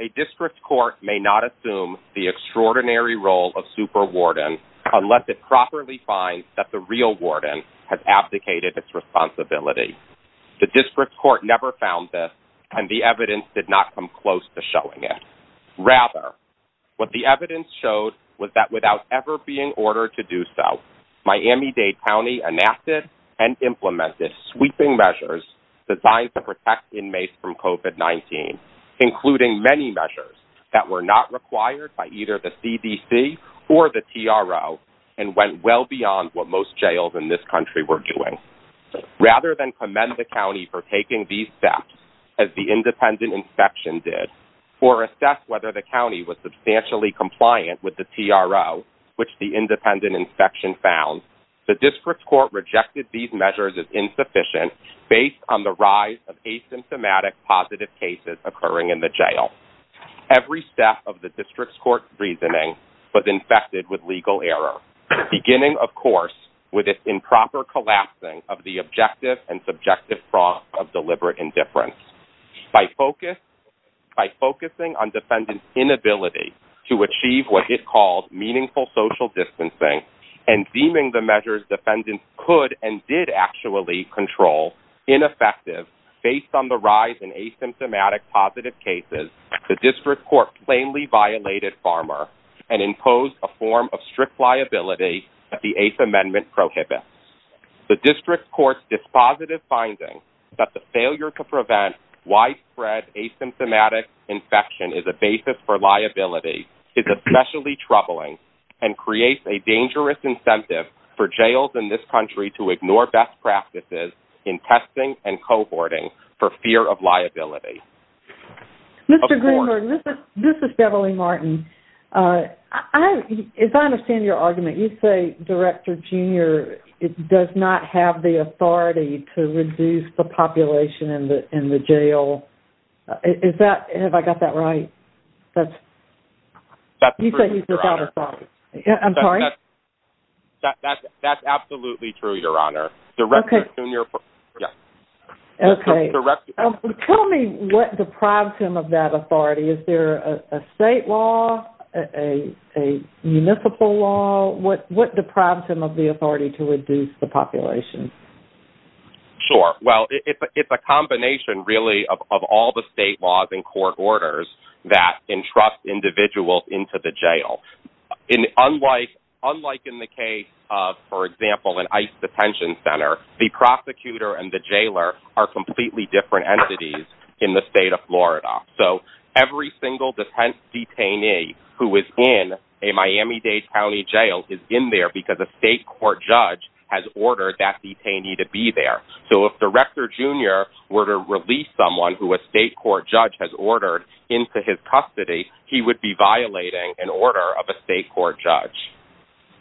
A District Court may not assume the extraordinary role of Superwarden unless it properly finds that the real warden has abdicated its responsibility. The District Court never found this and the evidence did not come close to showing it. Rather, what the evidence showed was that without ever being ordered to do so, Miami State County enacted and implemented sweeping measures designed to protect inmates from COVID-19, including many measures that were not required by either the CDC or the TRO and went well beyond what most jails in this country were doing. Rather than commend the county for taking these steps, as the independent inspection did, or assess whether the county was substantially compliant with the TRO, which the independent inspection found, the District Court rejected these measures as insufficient based on the rise of asymptomatic positive cases occurring in the jail. Every step of the District Court's reasoning was infected with legal error, beginning, of course, with its improper collapsing of the objective and subjective froth of deliberate indifference. By focusing on defendants' inability to achieve what it called meaningful social distancing and deeming the measures defendants could and did actually control ineffective based on the rise in asymptomatic positive cases, the District Court plainly violated Farmer and imposed a form of strict liability that the Eighth Amendment prohibits. The District Court's dispositive finding that the failure to prevent widespread asymptomatic infection is a basis for liability is especially troubling and creates a dangerous incentive for jails in this country to ignore best practices in testing and cohorting for fear of liability. Mr. Greenberg, this is Beverly Martin. As I understand your argument, you say Director Jr. does not have the authority to reduce the population in the jail. Is that, have I got that right? That's... That's true, Your Honor. You say he's without authority. I'm sorry? That's absolutely true, Your Honor. Okay. Director Jr. Yes. Okay. Tell me what deprives him of that authority. Is there a state law, a municipal law? What deprives him of the authority to reduce the population? Sure. Well, it's a combination, really, of all the state laws and court orders that entrust individuals into the jail. Unlike in the case of, for example, an ICE detention center, the prosecutor and the jailer are completely different entities in the state of Florida. So, every single defense detainee who is in a Miami-Dade County jail is in there because a state court judge has ordered that detainee to be there. So, if Director Jr. were to release someone who a state court judge has ordered into his custody, he would be violating an order of a state court judge.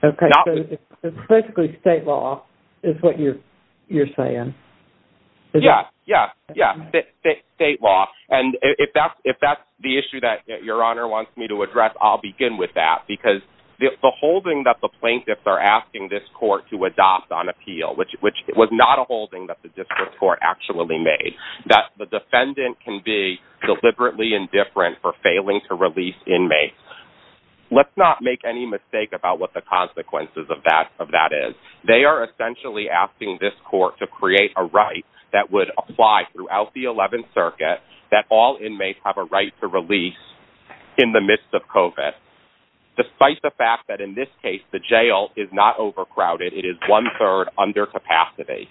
Okay. So, it's basically state law is what you're, you're saying. Yeah. Yeah. Yeah. So, it's basically state law. And if that's the issue that Your Honor wants me to address, I'll begin with that, because the holding that the plaintiffs are asking this court to adopt on appeal, which was not a holding that the district court actually made, that the defendant can be deliberately indifferent for failing to release inmates. Let's not make any mistake about what the consequences of that is. They are essentially asking this court to create a right that would apply throughout the 11th Circuit that all inmates have a right to release in the midst of COVID, despite the fact that, in this case, the jail is not overcrowded. It is one-third under capacity.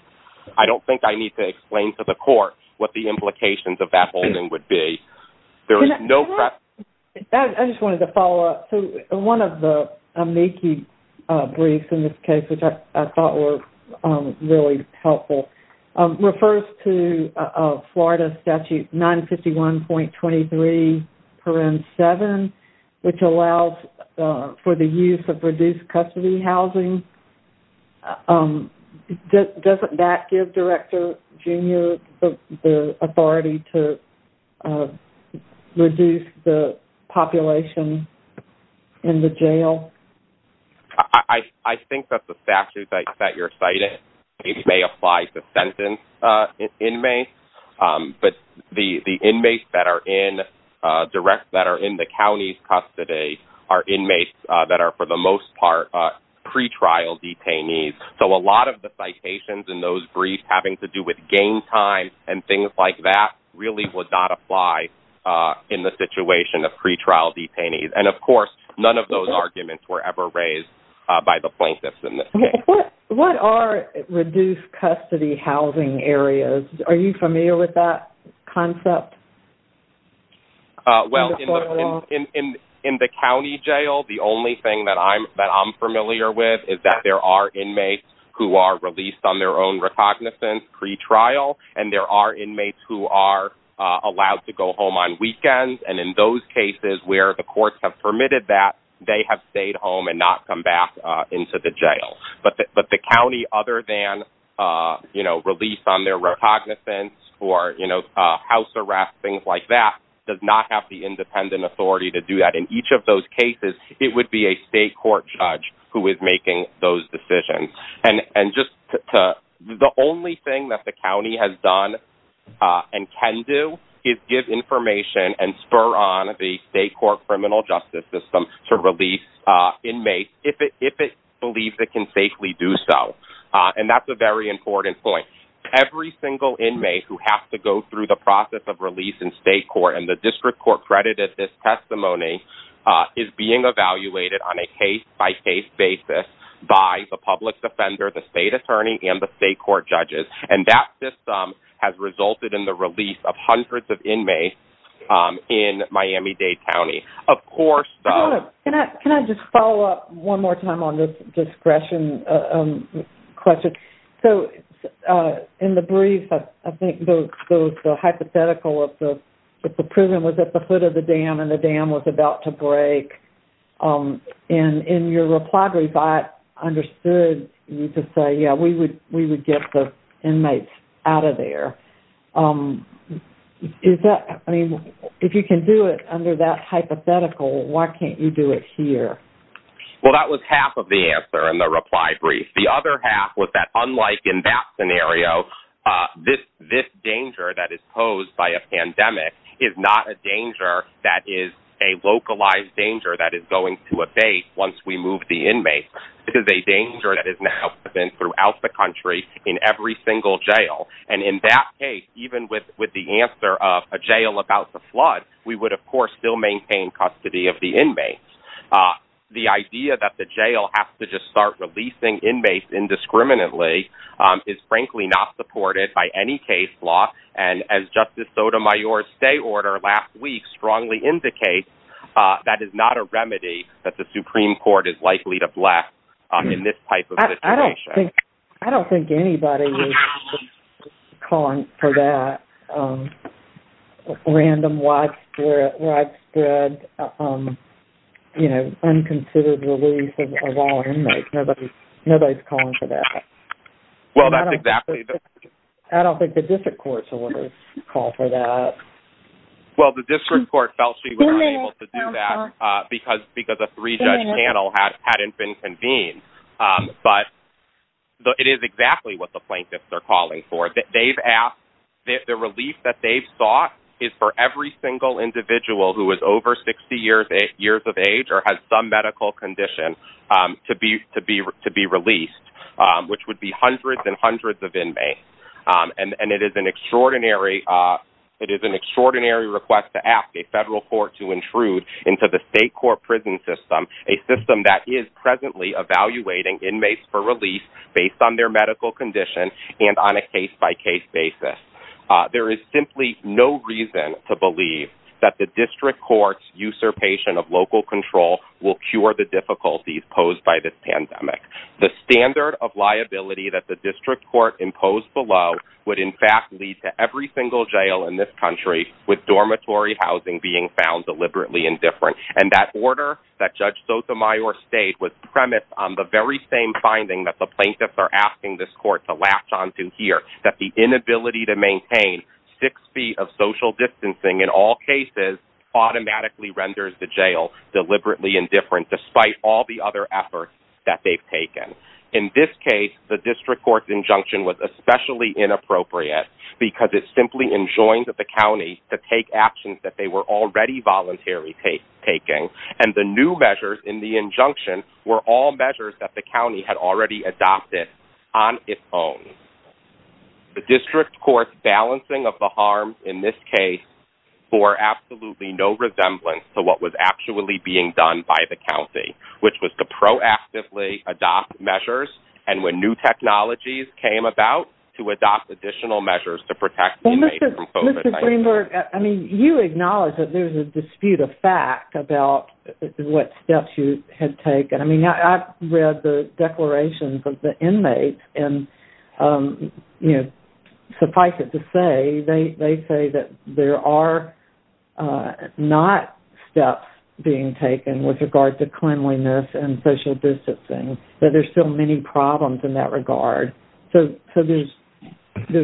I don't think I need to explain to the court what the implications of that holding would be. There is no precedent. Can I just... I just wanted to follow up. So, one of the amici briefs in this case, which I thought were really helpful, refers to Florida Statute 951.23, paren 7, which allows for the use of reduced custody housing. Doesn't that give Director Junior the authority to reduce the population in the jail? I think that the statute that you're citing may apply to sentenced inmates, but the inmates that are in direct...that are in the county's custody are inmates that are, for the most part, pre-trial detainees. So, a lot of the citations in those briefs having to do with game time and things like that really would not apply in the situation of pre-trial detainees. And of course, none of those arguments were ever raised by the plaintiffs in this case. What are reduced custody housing areas? Are you familiar with that concept? Well, in the county jail, the only thing that I'm familiar with is that there are inmates who are released on their own recognizance pre-trial, and there are inmates who are allowed to go home on weekends. And in those cases where the courts have permitted that, they have stayed home and not come back into the jail. But the county, other than release on their recognizance or house arrest, things like that, does not have the independent authority to do that. In each of those cases, it would be a state court judge who is making those decisions. And just the only thing that the county has done and can do is give information and spur on the state court criminal justice system to release inmates if it believes it can safely do so. And that's a very important point. Every single inmate who has to go through the process of release in state court, and the district court credited this testimony, is being evaluated on a case-by-case basis by the public defender, the state attorney, and the state court judges. And that system has resulted in the release of hundreds of inmates in Miami-Dade County. Of course... Hold on. Can I just follow up one more time on this discretion question? So, in the brief, I think there was the hypothetical of the prison was at the foot of the dam and the dam was about to break, and in your reply brief, I understood you to say, yeah, we would get the inmates out of there. Is that... I mean, if you can do it under that hypothetical, why can't you do it here? Well, that was half of the answer in the reply brief. The other half was that, unlike in that scenario, this danger that is posed by a pandemic is not a danger that is a localized danger that is going to evade once we move the inmates. It is a danger that is now present throughout the country in every single jail. And in that case, even with the answer of a jail about to flood, we would, of course, still maintain custody of the inmates. The idea that the jail has to just start releasing inmates indiscriminately is frankly not supported by any case law. And as Justice Sotomayor's stay order last week strongly indicates, that is not a remedy that the Supreme Court is likely to bless in this type of situation. I don't think anybody is calling for that random widespread, you know, unconsidered release of all inmates. Nobody's calling for that. Well, that's exactly the... I don't think the district court's orders call for that. Well, the district court felt she was unable to do that because a three-judge panel hadn't been convened. But it is exactly what the plaintiffs are calling for. The relief that they've sought is for every single individual who is over 60 years of age or has some medical condition to be released, which would be hundreds and hundreds of inmates. And it is an extraordinary request to ask a federal court to intrude into the state court prison system, a system that is presently evaluating inmates for release based on their medical condition and on a case-by-case basis. There is simply no reason to believe that the district court's usurpation of local control will cure the difficulties posed by this pandemic. The standard of liability that the district court imposed below would, in fact, lead to every single jail in this country with dormitory housing being found deliberately indifferent. And that order that Judge Sotomayor stated was premised on the very same finding that the plaintiffs are asking this court to latch onto here, that the inability to maintain six feet of social distancing in all cases automatically renders the jail deliberately indifferent despite all the other efforts that they've taken. In this case, the district court's injunction was especially inappropriate because it simply enjoined that the county to take actions that they were already voluntarily taking. And the new measures in the injunction were all measures that the county had already adopted on its own. The district court's balancing of the harm in this case bore absolutely no resemblance to what was actually being done by the county, which was to proactively adopt measures. And when new technologies came about, to adopt additional measures to protect the inmates from COVID-19. Mr. Greenberg, I mean, you acknowledge that there's a dispute of fact about what steps you had taken. I mean, I've read the declarations of the inmates, and suffice it to say, they say that there are not steps being taken with regard to cleanliness and social distancing, that there's still many problems in that regard. So there's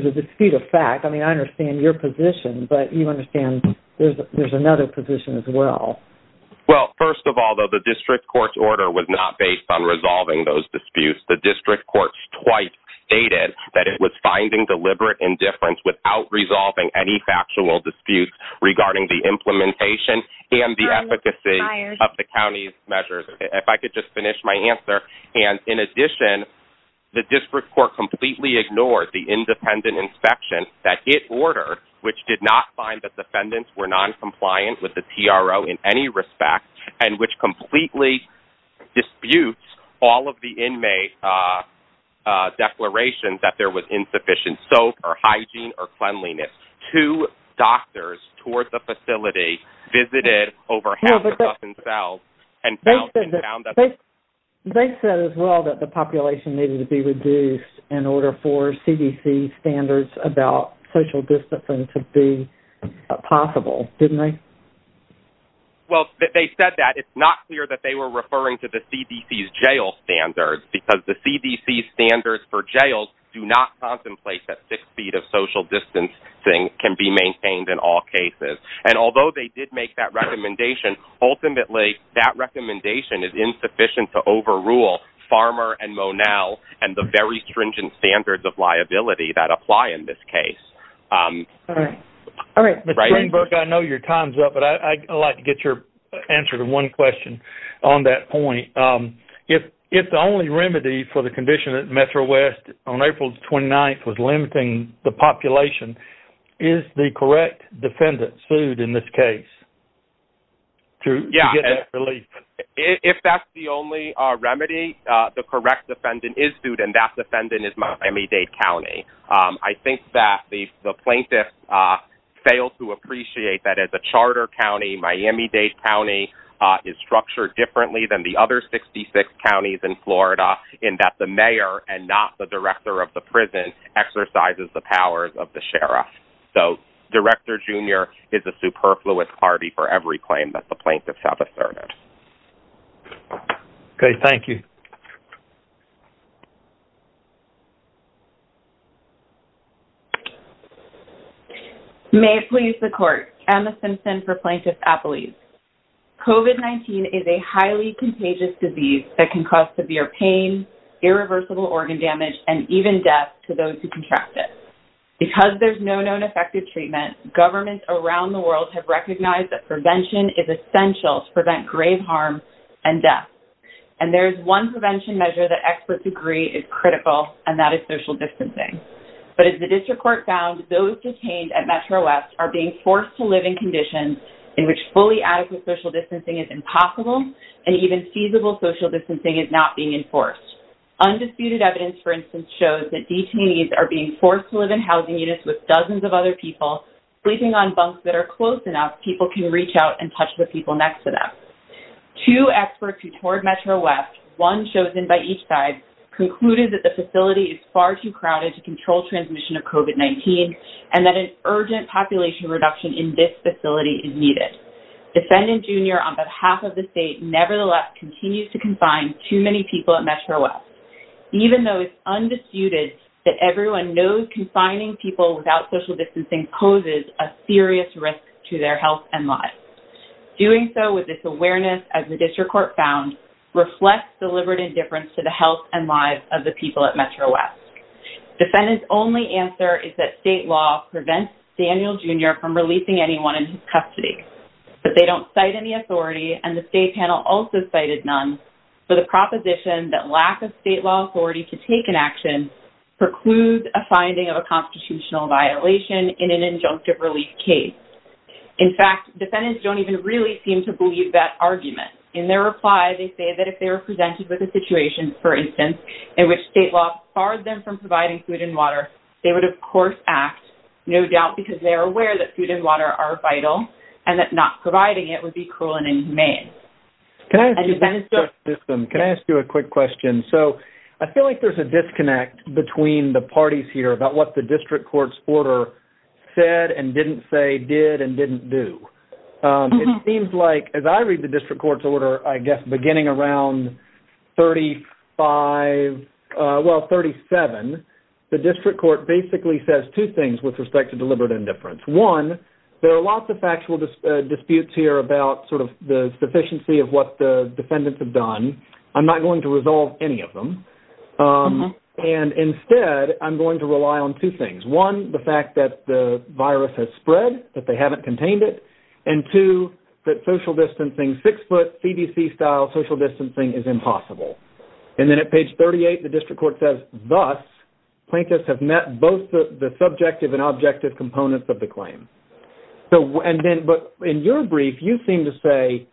a dispute of fact. I mean, I understand your position, but you understand there's another position as well. Well, first of all, though, the district court's order was not based on resolving those disputes. The district court's twice stated that it was finding deliberate indifference without resolving any factual disputes regarding the implementation and the efficacy of the county's measures. If I could just finish my answer, and in addition, the district court completely ignored the independent inspection that it ordered, which did not find that the defendants were noncompliant with the TRO in any respect, and which completely disputes all of the inmate declarations that there was insufficient soap or hygiene or cleanliness. Two doctors towards the facility visited over half a dozen cells and found that they said as well that the population needed to be reduced in order for CDC standards about social distancing to be possible, didn't they? Well, they said that. It's not clear that they were referring to the CDC's jail standards because the CDC standards for jails do not contemplate that six feet of social distancing can be maintained in all cases. And although they did make that recommendation, ultimately, that recommendation is insufficient to overrule Farmer and Monell and the very stringent standards of liability that apply in this case. All right. All right. Mr. Greenberg, I know your time's up, but I'd like to get your answer to one question on that point. If the only remedy for the condition at Metro West on April 29th was limiting the population, is the correct defendant sued in this case to get that relief? If that's the only remedy, the correct defendant is sued, and that defendant is Miami-Dade County. I think that the plaintiffs fail to appreciate that as a charter county, Miami-Dade County is structured differently than the other 66 counties in Florida in that the mayor and not the director of the prison exercises the powers of the sheriff. So Director Jr. is a superfluous party for every claim that the plaintiffs have asserted. Okay. Thank you. COVID-19 is a highly contagious disease that can cause severe pain, irreversible organ damage, and even death to those who contract it. Because there's no known effective treatment, governments around the world have recognized that prevention is essential to prevent grave harm and death. And there's one prevention measure that experts agree is critical, and that is social distancing. But as the district court found, those detained at Metro West are being forced to live in housing units where adequate social distancing is impossible, and even feasible social distancing is not being enforced. Undisputed evidence, for instance, shows that detainees are being forced to live in housing units with dozens of other people, sleeping on bunks that are close enough people can reach out and touch the people next to them. Two experts who toured Metro West, one chosen by each side, concluded that the facility is far too crowded to control transmission of COVID-19, and that an urgent population reduction in this facility is needed. Defendant Jr., on behalf of the state, nevertheless continues to confine too many people at Metro West, even though it's undisputed that everyone knows confining people without social distancing poses a serious risk to their health and lives. Doing so with this awareness, as the district court found, reflects deliberate indifference to the health and lives of the people at Metro West. Defendant's only answer is that state law prevents Daniel Jr. from releasing anyone in his custody, but they don't cite any authority, and the state panel also cited none, for the proposition that lack of state law authority to take an action precludes a finding of a constitutional violation in an injunctive release case. In fact, defendants don't even really seem to believe that argument. In their reply, they say that if they were presented with a situation, for instance, in which state law barred them from providing food and water, they would, of course, act, no doubt, because they are aware that food and water are vital, and that not providing it would be cruel and inhumane. Can I ask you a quick question? So I feel like there's a disconnect between the parties here about what the district court's order said and didn't say, did, and didn't do. It seems like, as I read the district court's order, I guess, beginning around 35, well, at page 37, the district court basically says two things with respect to deliberate indifference. One, there are lots of factual disputes here about sort of the sufficiency of what the defendants have done. I'm not going to resolve any of them. And instead, I'm going to rely on two things, one, the fact that the virus has spread, that they haven't contained it, and two, that social distancing, six-foot, CDC-style social distancing is impossible. And then at page 38, the district court says, thus, plaintiffs have met both the subjective and objective components of the claim. And then, but in your brief, you seem to say,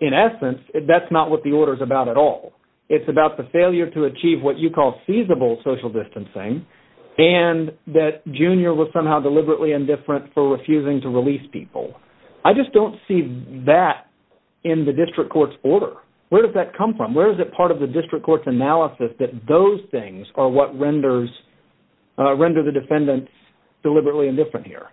in essence, that's not what the order is about at all. It's about the failure to achieve what you call feasible social distancing, and that Junior was somehow deliberately indifferent for refusing to release people. I just don't see that in the district court's order. Where does that come from? Where is it part of the district court's analysis that those things are what renders, render the defendants deliberately indifferent here?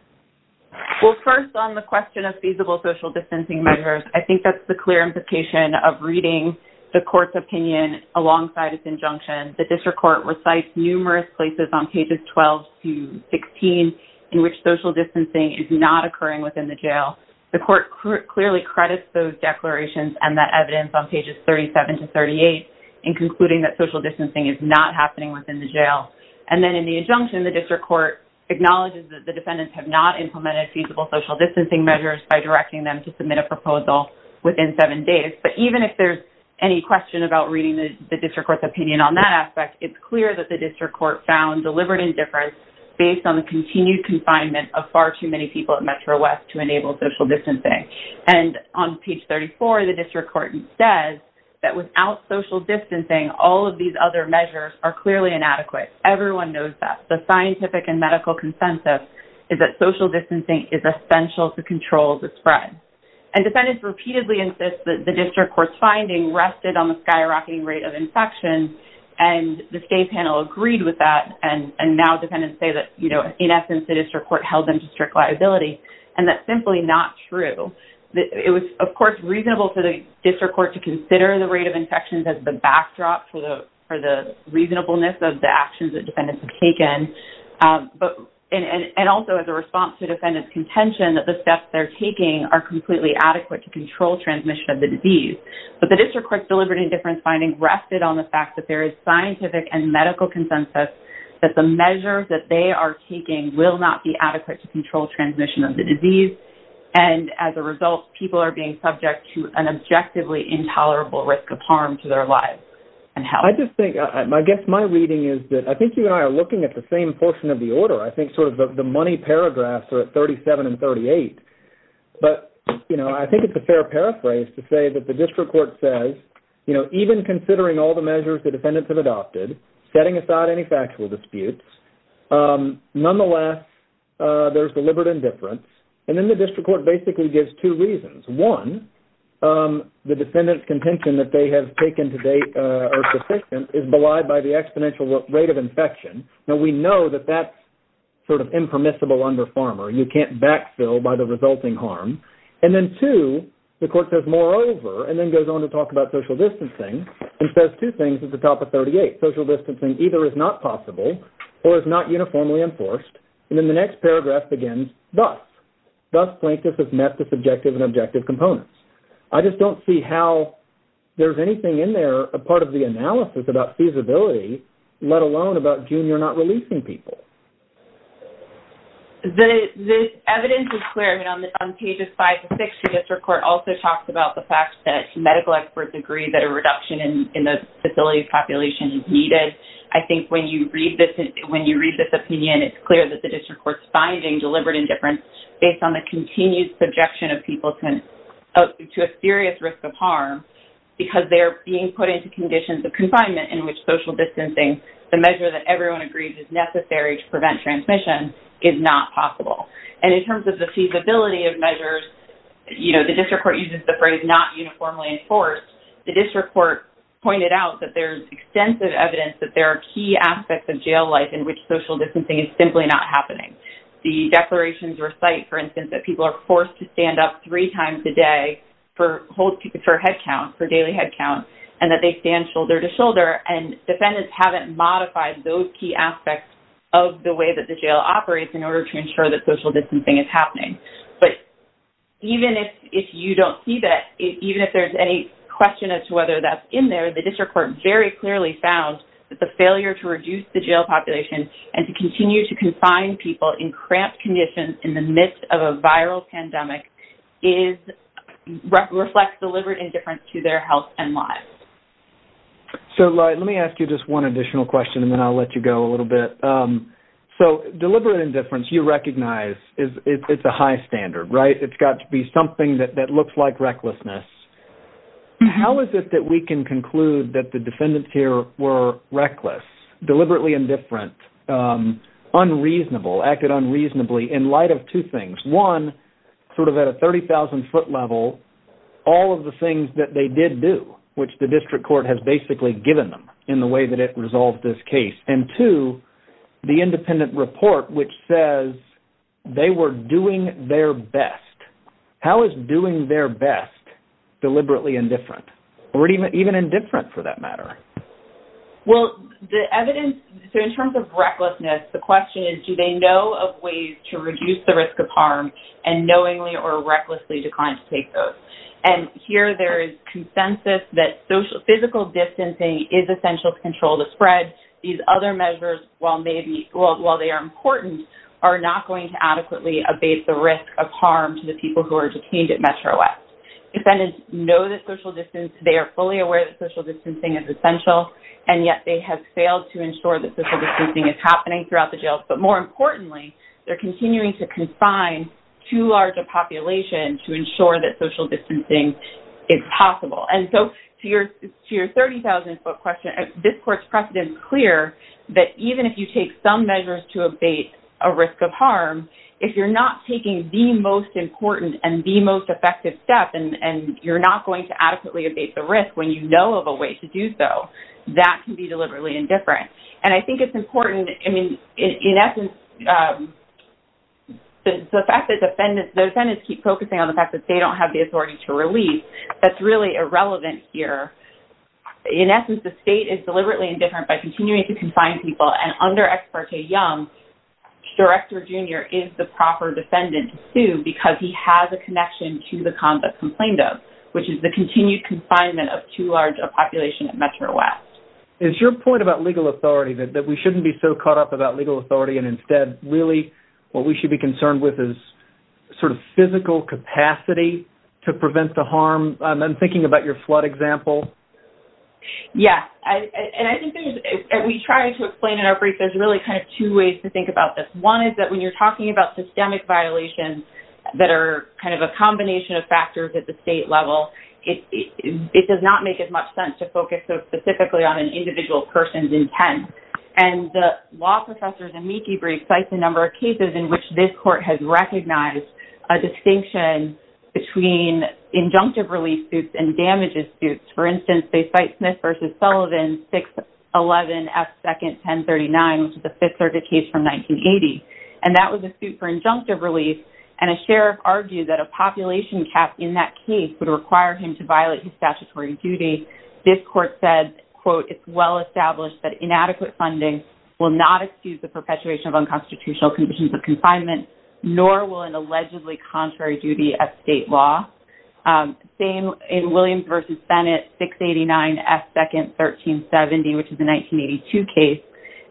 Well, first, on the question of feasible social distancing measures, I think that's the clear implication of reading the court's opinion alongside its injunction. The district court recites numerous places on pages 12 to 16 in which social distancing is not occurring within the jail. The court clearly credits those declarations and that evidence on pages 37 to 38 in concluding that social distancing is not happening within the jail. And then in the injunction, the district court acknowledges that the defendants have not implemented feasible social distancing measures by directing them to submit a proposal within seven days. But even if there's any question about reading the district court's opinion on that aspect, it's clear that the district court found deliberate indifference based on the continued confinement of far too many people at Metro West to enable social distancing. And on page 34, the district court says that without social distancing, all of these other measures are clearly inadequate. Everyone knows that. The scientific and medical consensus is that social distancing is essential to control the spread. And defendants repeatedly insist that the district court's finding rested on the skyrocketing rate of infection. And the state panel agreed with that. And now defendants say that, you know, in essence, the district court held them to strict liability. And that's simply not true. It was, of course, reasonable for the district court to consider the rate of infections as the backdrop for the reasonableness of the actions that defendants have taken. And also as a response to defendants' contention that the steps they're taking are completely adequate to control transmission of the disease. But the district court's deliberate indifference finding rested on the fact that there is scientific and medical consensus that the measures that they are taking will not be adequate to control transmission of the disease. And as a result, people are being subject to an objectively intolerable risk of harm to their lives and health. I just think, I guess my reading is that I think you and I are looking at the same portion of the order. I think sort of the money paragraphs are at 37 and 38. But you know, I think it's a fair paraphrase to say that the district court says, you know, even considering all the measures the defendants have adopted, setting aside any factual disputes, nonetheless, there's deliberate indifference. And then the district court basically gives two reasons. One, the defendants' contention that they have taken to date are sufficient is belied by the exponential rate of infection. Now, we know that that's sort of impermissible under FARMR. You can't backfill by the resulting harm. And then two, the court says, moreover, and then goes on to talk about social distancing, and says two things at the top of 38. Social distancing either is not possible or is not uniformly enforced. And then the next paragraph begins, thus. Thus, plaintiffs have met the subjective and objective components. I just don't see how there's anything in there, a part of the analysis about feasibility, let alone about junior not releasing people. The evidence is clear. On pages five to six, the district court also talks about the fact that medical experts agree that a reduction in the facility population is needed. I think when you read this opinion, it's clear that the district court's finding deliberate indifference based on the continued subjection of people to a serious risk of harm because they're being put into conditions of confinement in which social distancing, the measure that everyone agrees is necessary to prevent transmission, is not possible. And in terms of the feasibility of measures, you know, the district court uses the phrase not uniformly enforced. The district court pointed out that there's extensive evidence that there are key aspects of jail life in which social distancing is simply not happening. The declarations recite, for instance, that people are forced to stand up three times a day for headcount, for daily headcount, and that they stand shoulder to shoulder. And defendants haven't modified those key aspects of the way that the jail operates in order to ensure that social distancing is happening. But even if you don't see that, even if there's any question as to whether that's in there, the district court very clearly found that the failure to reduce the jail population and to continue to confine people in cramped conditions in the midst of a viral pandemic is...reflects deliberate indifference to their health and lives. So, Lloyd, let me ask you just one additional question, and then I'll let you go a little bit. So, deliberate indifference, you recognize, it's a high standard, right? It's got to be something that looks like recklessness. How is it that we can conclude that the defendants here were reckless, deliberately indifferent, unreasonable, acted unreasonably, in light of two things? One, sort of at a 30,000-foot level, all of the things that they did do, which the district court has basically given them in the way that it resolved this case. And two, the independent report, which says they were doing their best. How is doing their best deliberately indifferent, or even indifferent, for that matter? Well, the evidence... So, in terms of recklessness, the question is, do they know of ways to reduce the risk of harm and knowingly or recklessly decline to take those? And here, there is consensus that physical distancing is essential to control the spread. These other measures, while they are important, are not going to adequately abate the risk of harm to the people who are detained at Metro S. Defendants know that social distancing... They are fully aware that social distancing is essential, and yet they have failed to ensure that social distancing is happening throughout the jails. But more importantly, they're continuing to confine too large a population to ensure that social distancing is possible. And so, to your 30,000-foot question, this court's precedent is clear that even if you take some measures to abate a risk of harm, if you're not taking the most important and the most effective step and you're not going to adequately abate the risk when you know of a way to do so, that can be deliberately indifferent. And I think it's important... In essence, the fact that the defendants keep focusing on the fact that they don't have the authority to release, that's really irrelevant here. In essence, the state is deliberately indifferent by continuing to confine people. And under Ex parte Young, Director Jr. is the proper defendant to sue because he has a connection to the convicts complained of, which is the continued confinement of too large a population at Metro S. It's your point about legal authority that we shouldn't be so caught up about legal authority and instead, really, what we should be concerned with is sort of physical capacity to prevent the harm. I'm thinking about your flood example. Yes. And I think we try to explain in our brief, there's really kind of two ways to think about this. One is that when you're talking about systemic violations that are kind of a combination of factors at the state level, it does not make as much sense to focus so specifically on an individual person's intent. And the law professor, Zemecki Briggs, cites a number of cases in which this court has recognized a distinction between injunctive release suits and damages suits. For instance, they cite Smith v. Sullivan 611F2nd 1039, which is a Fifth Circuit case from 1980. And that was a suit for injunctive release. And a sheriff argued that a population cap in that case would require him to violate his statutory duty. This court said, quote, it's well established that inadequate funding will not excuse the perpetuation of unconstitutional conditions of confinement, nor will an allegedly contrary duty at state law. Same in Williams v. Bennett 689F2nd 1370, which is a 1982 case.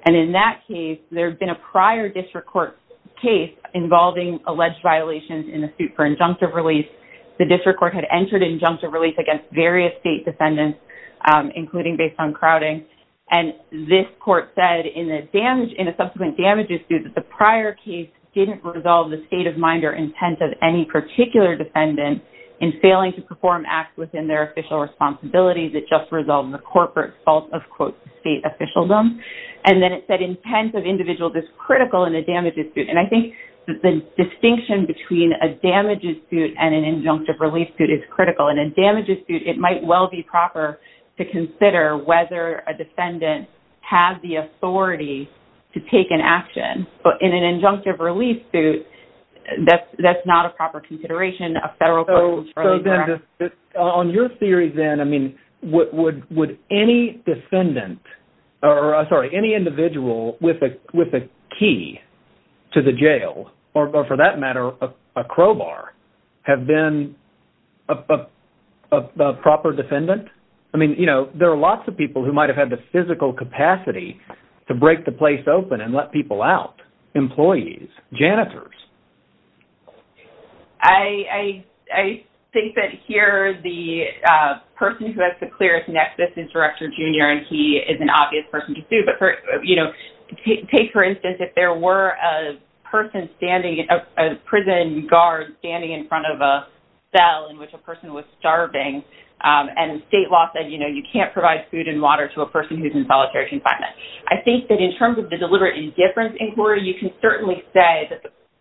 And in that case, there had been a prior district court case involving alleged violations in the suit for injunctive release. The district court had entered injunctive release against various state defendants, including based on crowding. And this court said in a subsequent damages suit that the prior case didn't resolve the state of mind or intent of any particular defendant in failing to perform acts within their official responsibilities. It just resolved the corporate fault of, quote, state officialdom. And then it said intent of individuals is critical in a damages suit. And I think that the distinction between a damages suit and an injunctive release suit is critical. In a damages suit, it might well be proper to consider whether a defendant has the authority to take an action. But in an injunctive release suit, that's not a proper consideration. A federal person's fairly direct... On your theory then, I mean, would any defendant... Or, sorry, any individual with a key to the jail, or for that matter, a crowbar, have been a proper defendant? I mean, you know, there are lots of people who might have had the physical capacity to break the place open and let people out. Employees, janitors. I think that here the person who has the clearest nexus is Director Junior, and he is an obvious person to sue. But, you know, take for instance, if there were a person standing, a prison guard standing in front of a cell in which a person was starving, and state law said, you know, you can't provide food and water to a person who's in solitary confinement. I think that in terms of the deliberate indifference inquiry, you can certainly say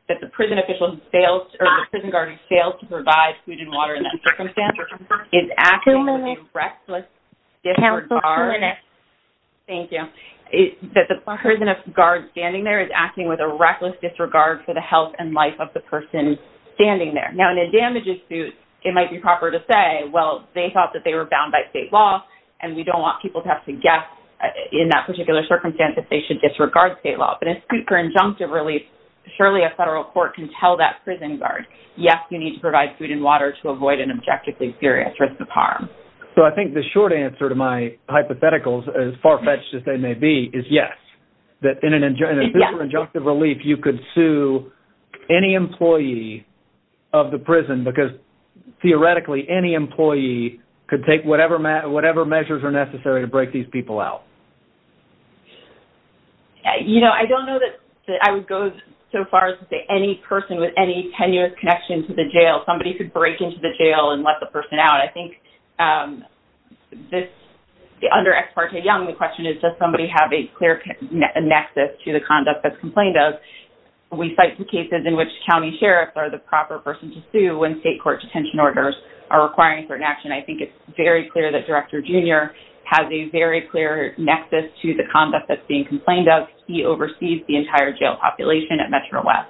that the prison official who fails, or the prison guard who fails to provide food and water in that circumstance is acting with a reckless disregard... Cancel two minutes. Thank you. That the prison guard standing there is acting with a reckless disregard for the health and life of the person standing there. Now, in a damages suit, it might be proper to say, well, they thought that they were bound by state law, and we don't want people to have to guess in that particular circumstance that they should disregard state law. But in a suit for injunctive relief, surely a federal court can tell that prison guard, yes, you need to provide food and water to avoid an objectively serious risk of harm. So I think the short answer to my hypotheticals, as far-fetched as they may be, is yes. That in a suit for injunctive relief, you could sue any employee of the prison because theoretically any employee could take whatever measures are necessary to break these people out. You know, I don't know that I would go so far as to say that any person with any tenuous connection to the jail, somebody could break into the jail and let the person out. I think under Ex parte Young, the question is does somebody have a clear nexus to the conduct that's complained of? We cite some cases in which county sheriffs are the proper person to sue when state court detention orders are requiring certain action. I think it's very clear that Director Junior has a very clear nexus to the conduct that's being complained of. He oversees the entire jail population at Metro West.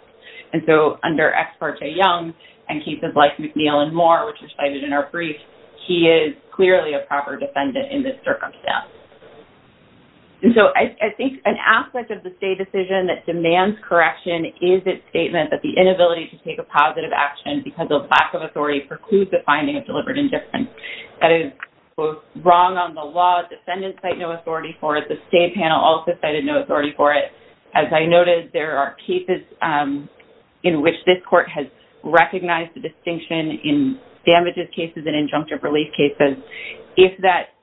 And so under Ex parte Young, and cases like McNeil and Moore, which are cited in our brief, he is clearly a proper defendant in this circumstance. And so I think an aspect of the state decision that demands correction is its statement that the inability to take a positive action because of lack of authority precludes the finding of deliberate indifference. That is both wrong on the law, defendants cite no authority for it, the state panel also cited no authority for it. As I noted, there are cases in which this court has recognized the distinction in damages cases and injunctive relief cases. If that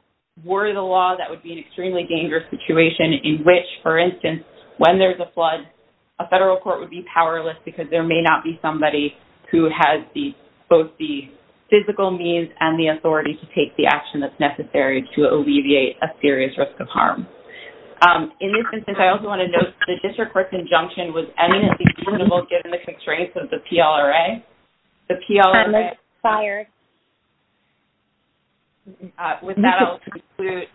were the law, that would be an extremely dangerous situation in which, for instance, when there's a flood, a federal court would be powerless because there may not be somebody who has both the physical means and the authority to take the action that's necessary to alleviate a serious risk of harm. In this instance, I also want to note the district court's injunction was eminently critical given the constraints of the PLRA. The PLRA- I'm fired. With that, I'll conclude.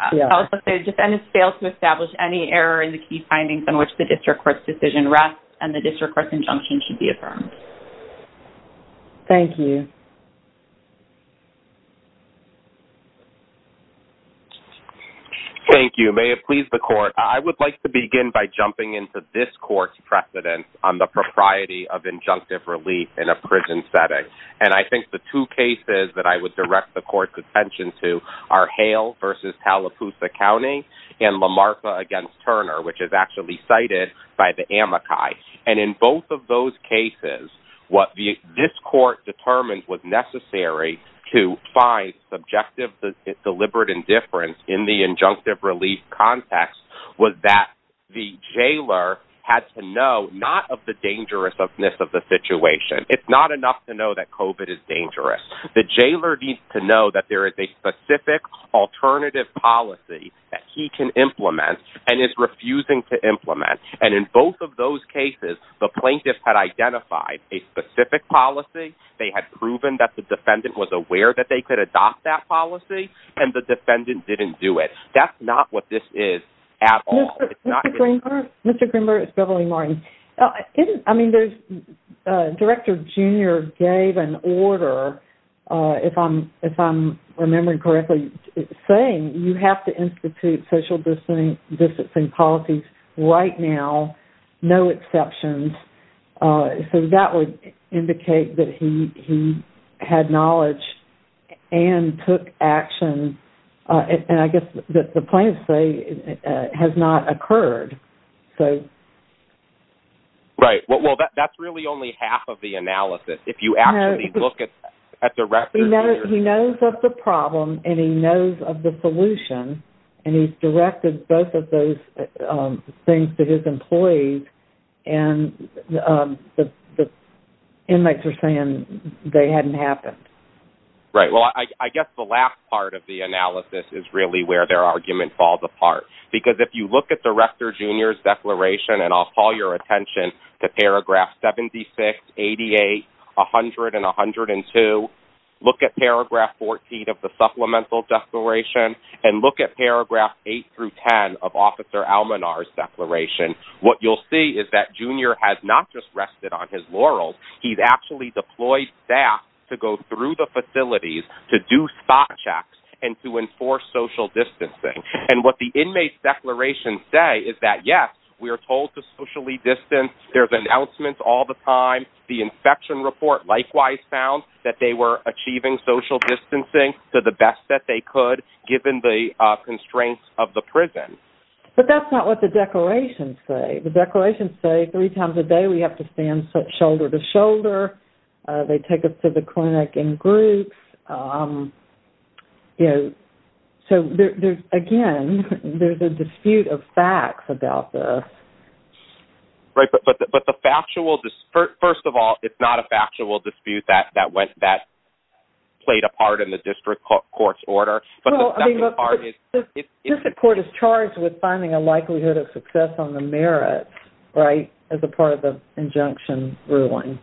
I'll also say, defendants fail to establish any error in the key findings on which the district court's decision rests and the district court's injunction should be affirmed. Thank you. Thank you. May it please the court. I would like to begin by jumping into this court's precedent on the propriety of injunctive relief in a prison setting. And I think the two cases that I would direct the court's attention to are Hale versus Tallapoosa County and Lamartha against Turner, which is actually cited by the Amakai. And in both of those cases, what this court determined was necessary to find subjective evidence that deliberate indifference in the injunctive relief context was that the jailer had to know not of the dangerousness of the situation. It's not enough to know that COVID is dangerous. The jailer needs to know that there is a specific alternative policy that he can implement and is refusing to implement. And in both of those cases, the plaintiff had identified a specific policy. They had proven that the defendant was aware that they could adopt that policy and the defendant didn't do it. That's not what this is at all. It's not- Mr. Greenberg, it's Beverly Martin. I mean, Director Junior gave an order, if I'm remembering correctly, saying you have to institute social distancing policies right now, no exceptions. So that would indicate that he had knowledge and took action. And I guess that the plaintiff say has not occurred. Right, well, that's really only half of the analysis. If you actually look at Director Junior- He knows of the problem and he knows of the solution and he's directed both of those things to his employees. And the inmates are saying they hadn't happened. Right, well, I guess the last part of the analysis is really where their argument falls apart. Because if you look at Director Junior's declaration, and I'll call your attention to paragraph 76, 88, 100, and 102, look at paragraph 14 of the supplemental declaration and look at paragraph eight through 10 of Officer Almanar's declaration. What you'll see is that Junior has not just rested on his laurels. He's actually deployed staff to go through the facilities to do spot checks and to enforce social distancing. And what the inmates declaration say is that, yes, we are told to socially distance. There's announcements all the time. The infection report likewise found that they were achieving social distancing to the best that they could given the constraints of the prison. But that's not what the declarations say. The declarations say three times a day we have to stand shoulder to shoulder. They take us to the clinic in groups. So there's, again, there's a dispute of facts about this. Right, but the factual, first of all, it's not a factual dispute that played a part in the district court's order. Well, I mean, look, this court is charged with finding a likelihood of success on the merits, right, as a part of the injunction ruling.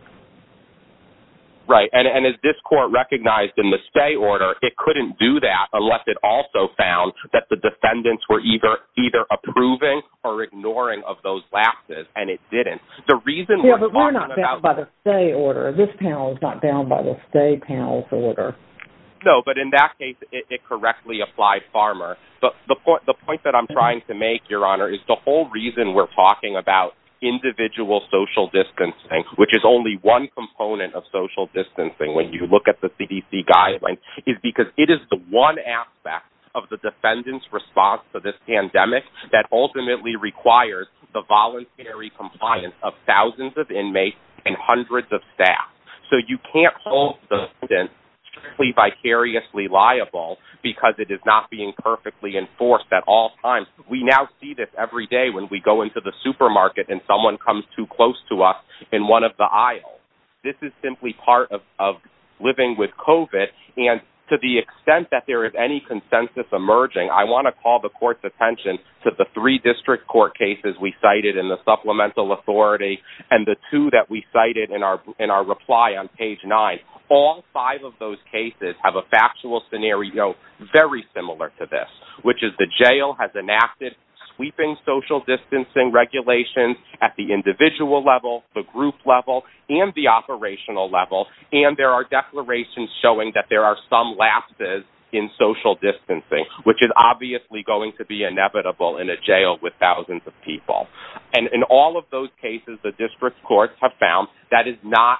Right, and as this court recognized in the stay order, it couldn't do that unless it also found that the defendants were either approving or ignoring of those laxes, and it didn't. The reason we're talking about- Yeah, but we're not down by the stay order. This panel is not down by the stay panel's order. No, but in that case, it correctly applied Farmer. But the point that I'm trying to make, Your Honor, is the whole reason we're talking about individual social distancing, which is only one component of social distancing when you look at the CDC guidelines, is because it is the one aspect of the defendant's response to this pandemic that ultimately requires the voluntary compliance of thousands of inmates and hundreds of staff. So you can't hold the distance to be vicariously liable because it is not being perfectly enforced at all times. We now see this every day when we go into the supermarket and someone comes too close to us in one of the aisles. This is simply part of living with COVID, and to the extent that there is any consensus emerging, I wanna call the court's attention to the three district court cases we cited in the supplemental authority, and the two that we cited in our reply on page nine. All five of those cases have a factual scenario very similar to this, which is the jail has enacted sweeping social distancing regulations at the individual level, the group level, and the operational level. And there are declarations showing that there are some lapses in social distancing, which is obviously going to be inevitable in a jail with thousands of people. And in all of those cases, the district courts have found that is not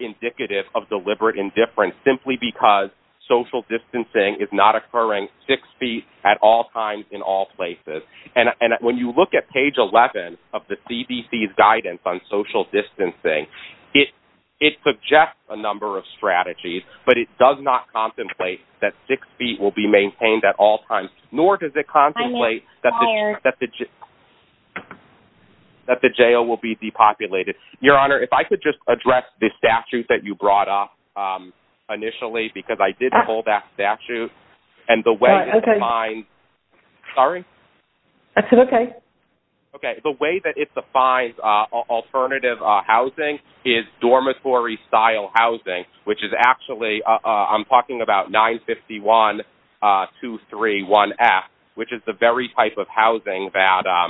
indicative of deliberate indifference simply because social distancing is not occurring six feet at all times in all places. And when you look at page 11 of the CDC's guidance on social distancing, it suggests a number of strategies, but it does not contemplate that six feet will be maintained at all times, nor does it contemplate that the... That the jail will be depopulated. Your Honor, if I could just address the statute that you brought up initially, because I did pull that statute. And the way- Oh, okay. Sorry? That's okay. Okay, the way that it defines alternative housing is dormitory-style housing, which is actually, I'm talking about 951-231F, which is the very type of housing that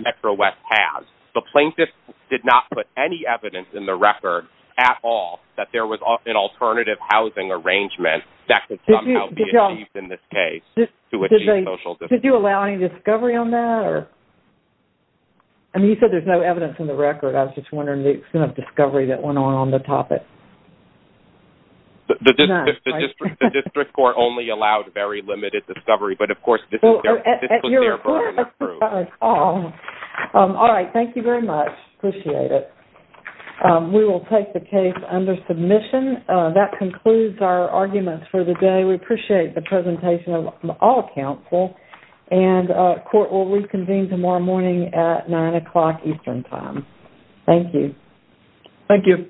Metro West has. The plaintiff did not put any evidence in the record at all that there was an alternative housing arrangement that could somehow be achieved in this case to achieve social distancing. Did you allow any discovery on that, or? I mean, you said there's no evidence in the record. I was just wondering the extent of discovery that went on on the topic. The district court only allowed very limited discovery, but of course, this was therefore unapproved. Oh. All right, thank you very much. Appreciate it. We will take the case under submission. That concludes our arguments for the day. We appreciate the presentation of all counsel, and court will reconvene tomorrow morning at nine o'clock Eastern time. Thank you. Thank you.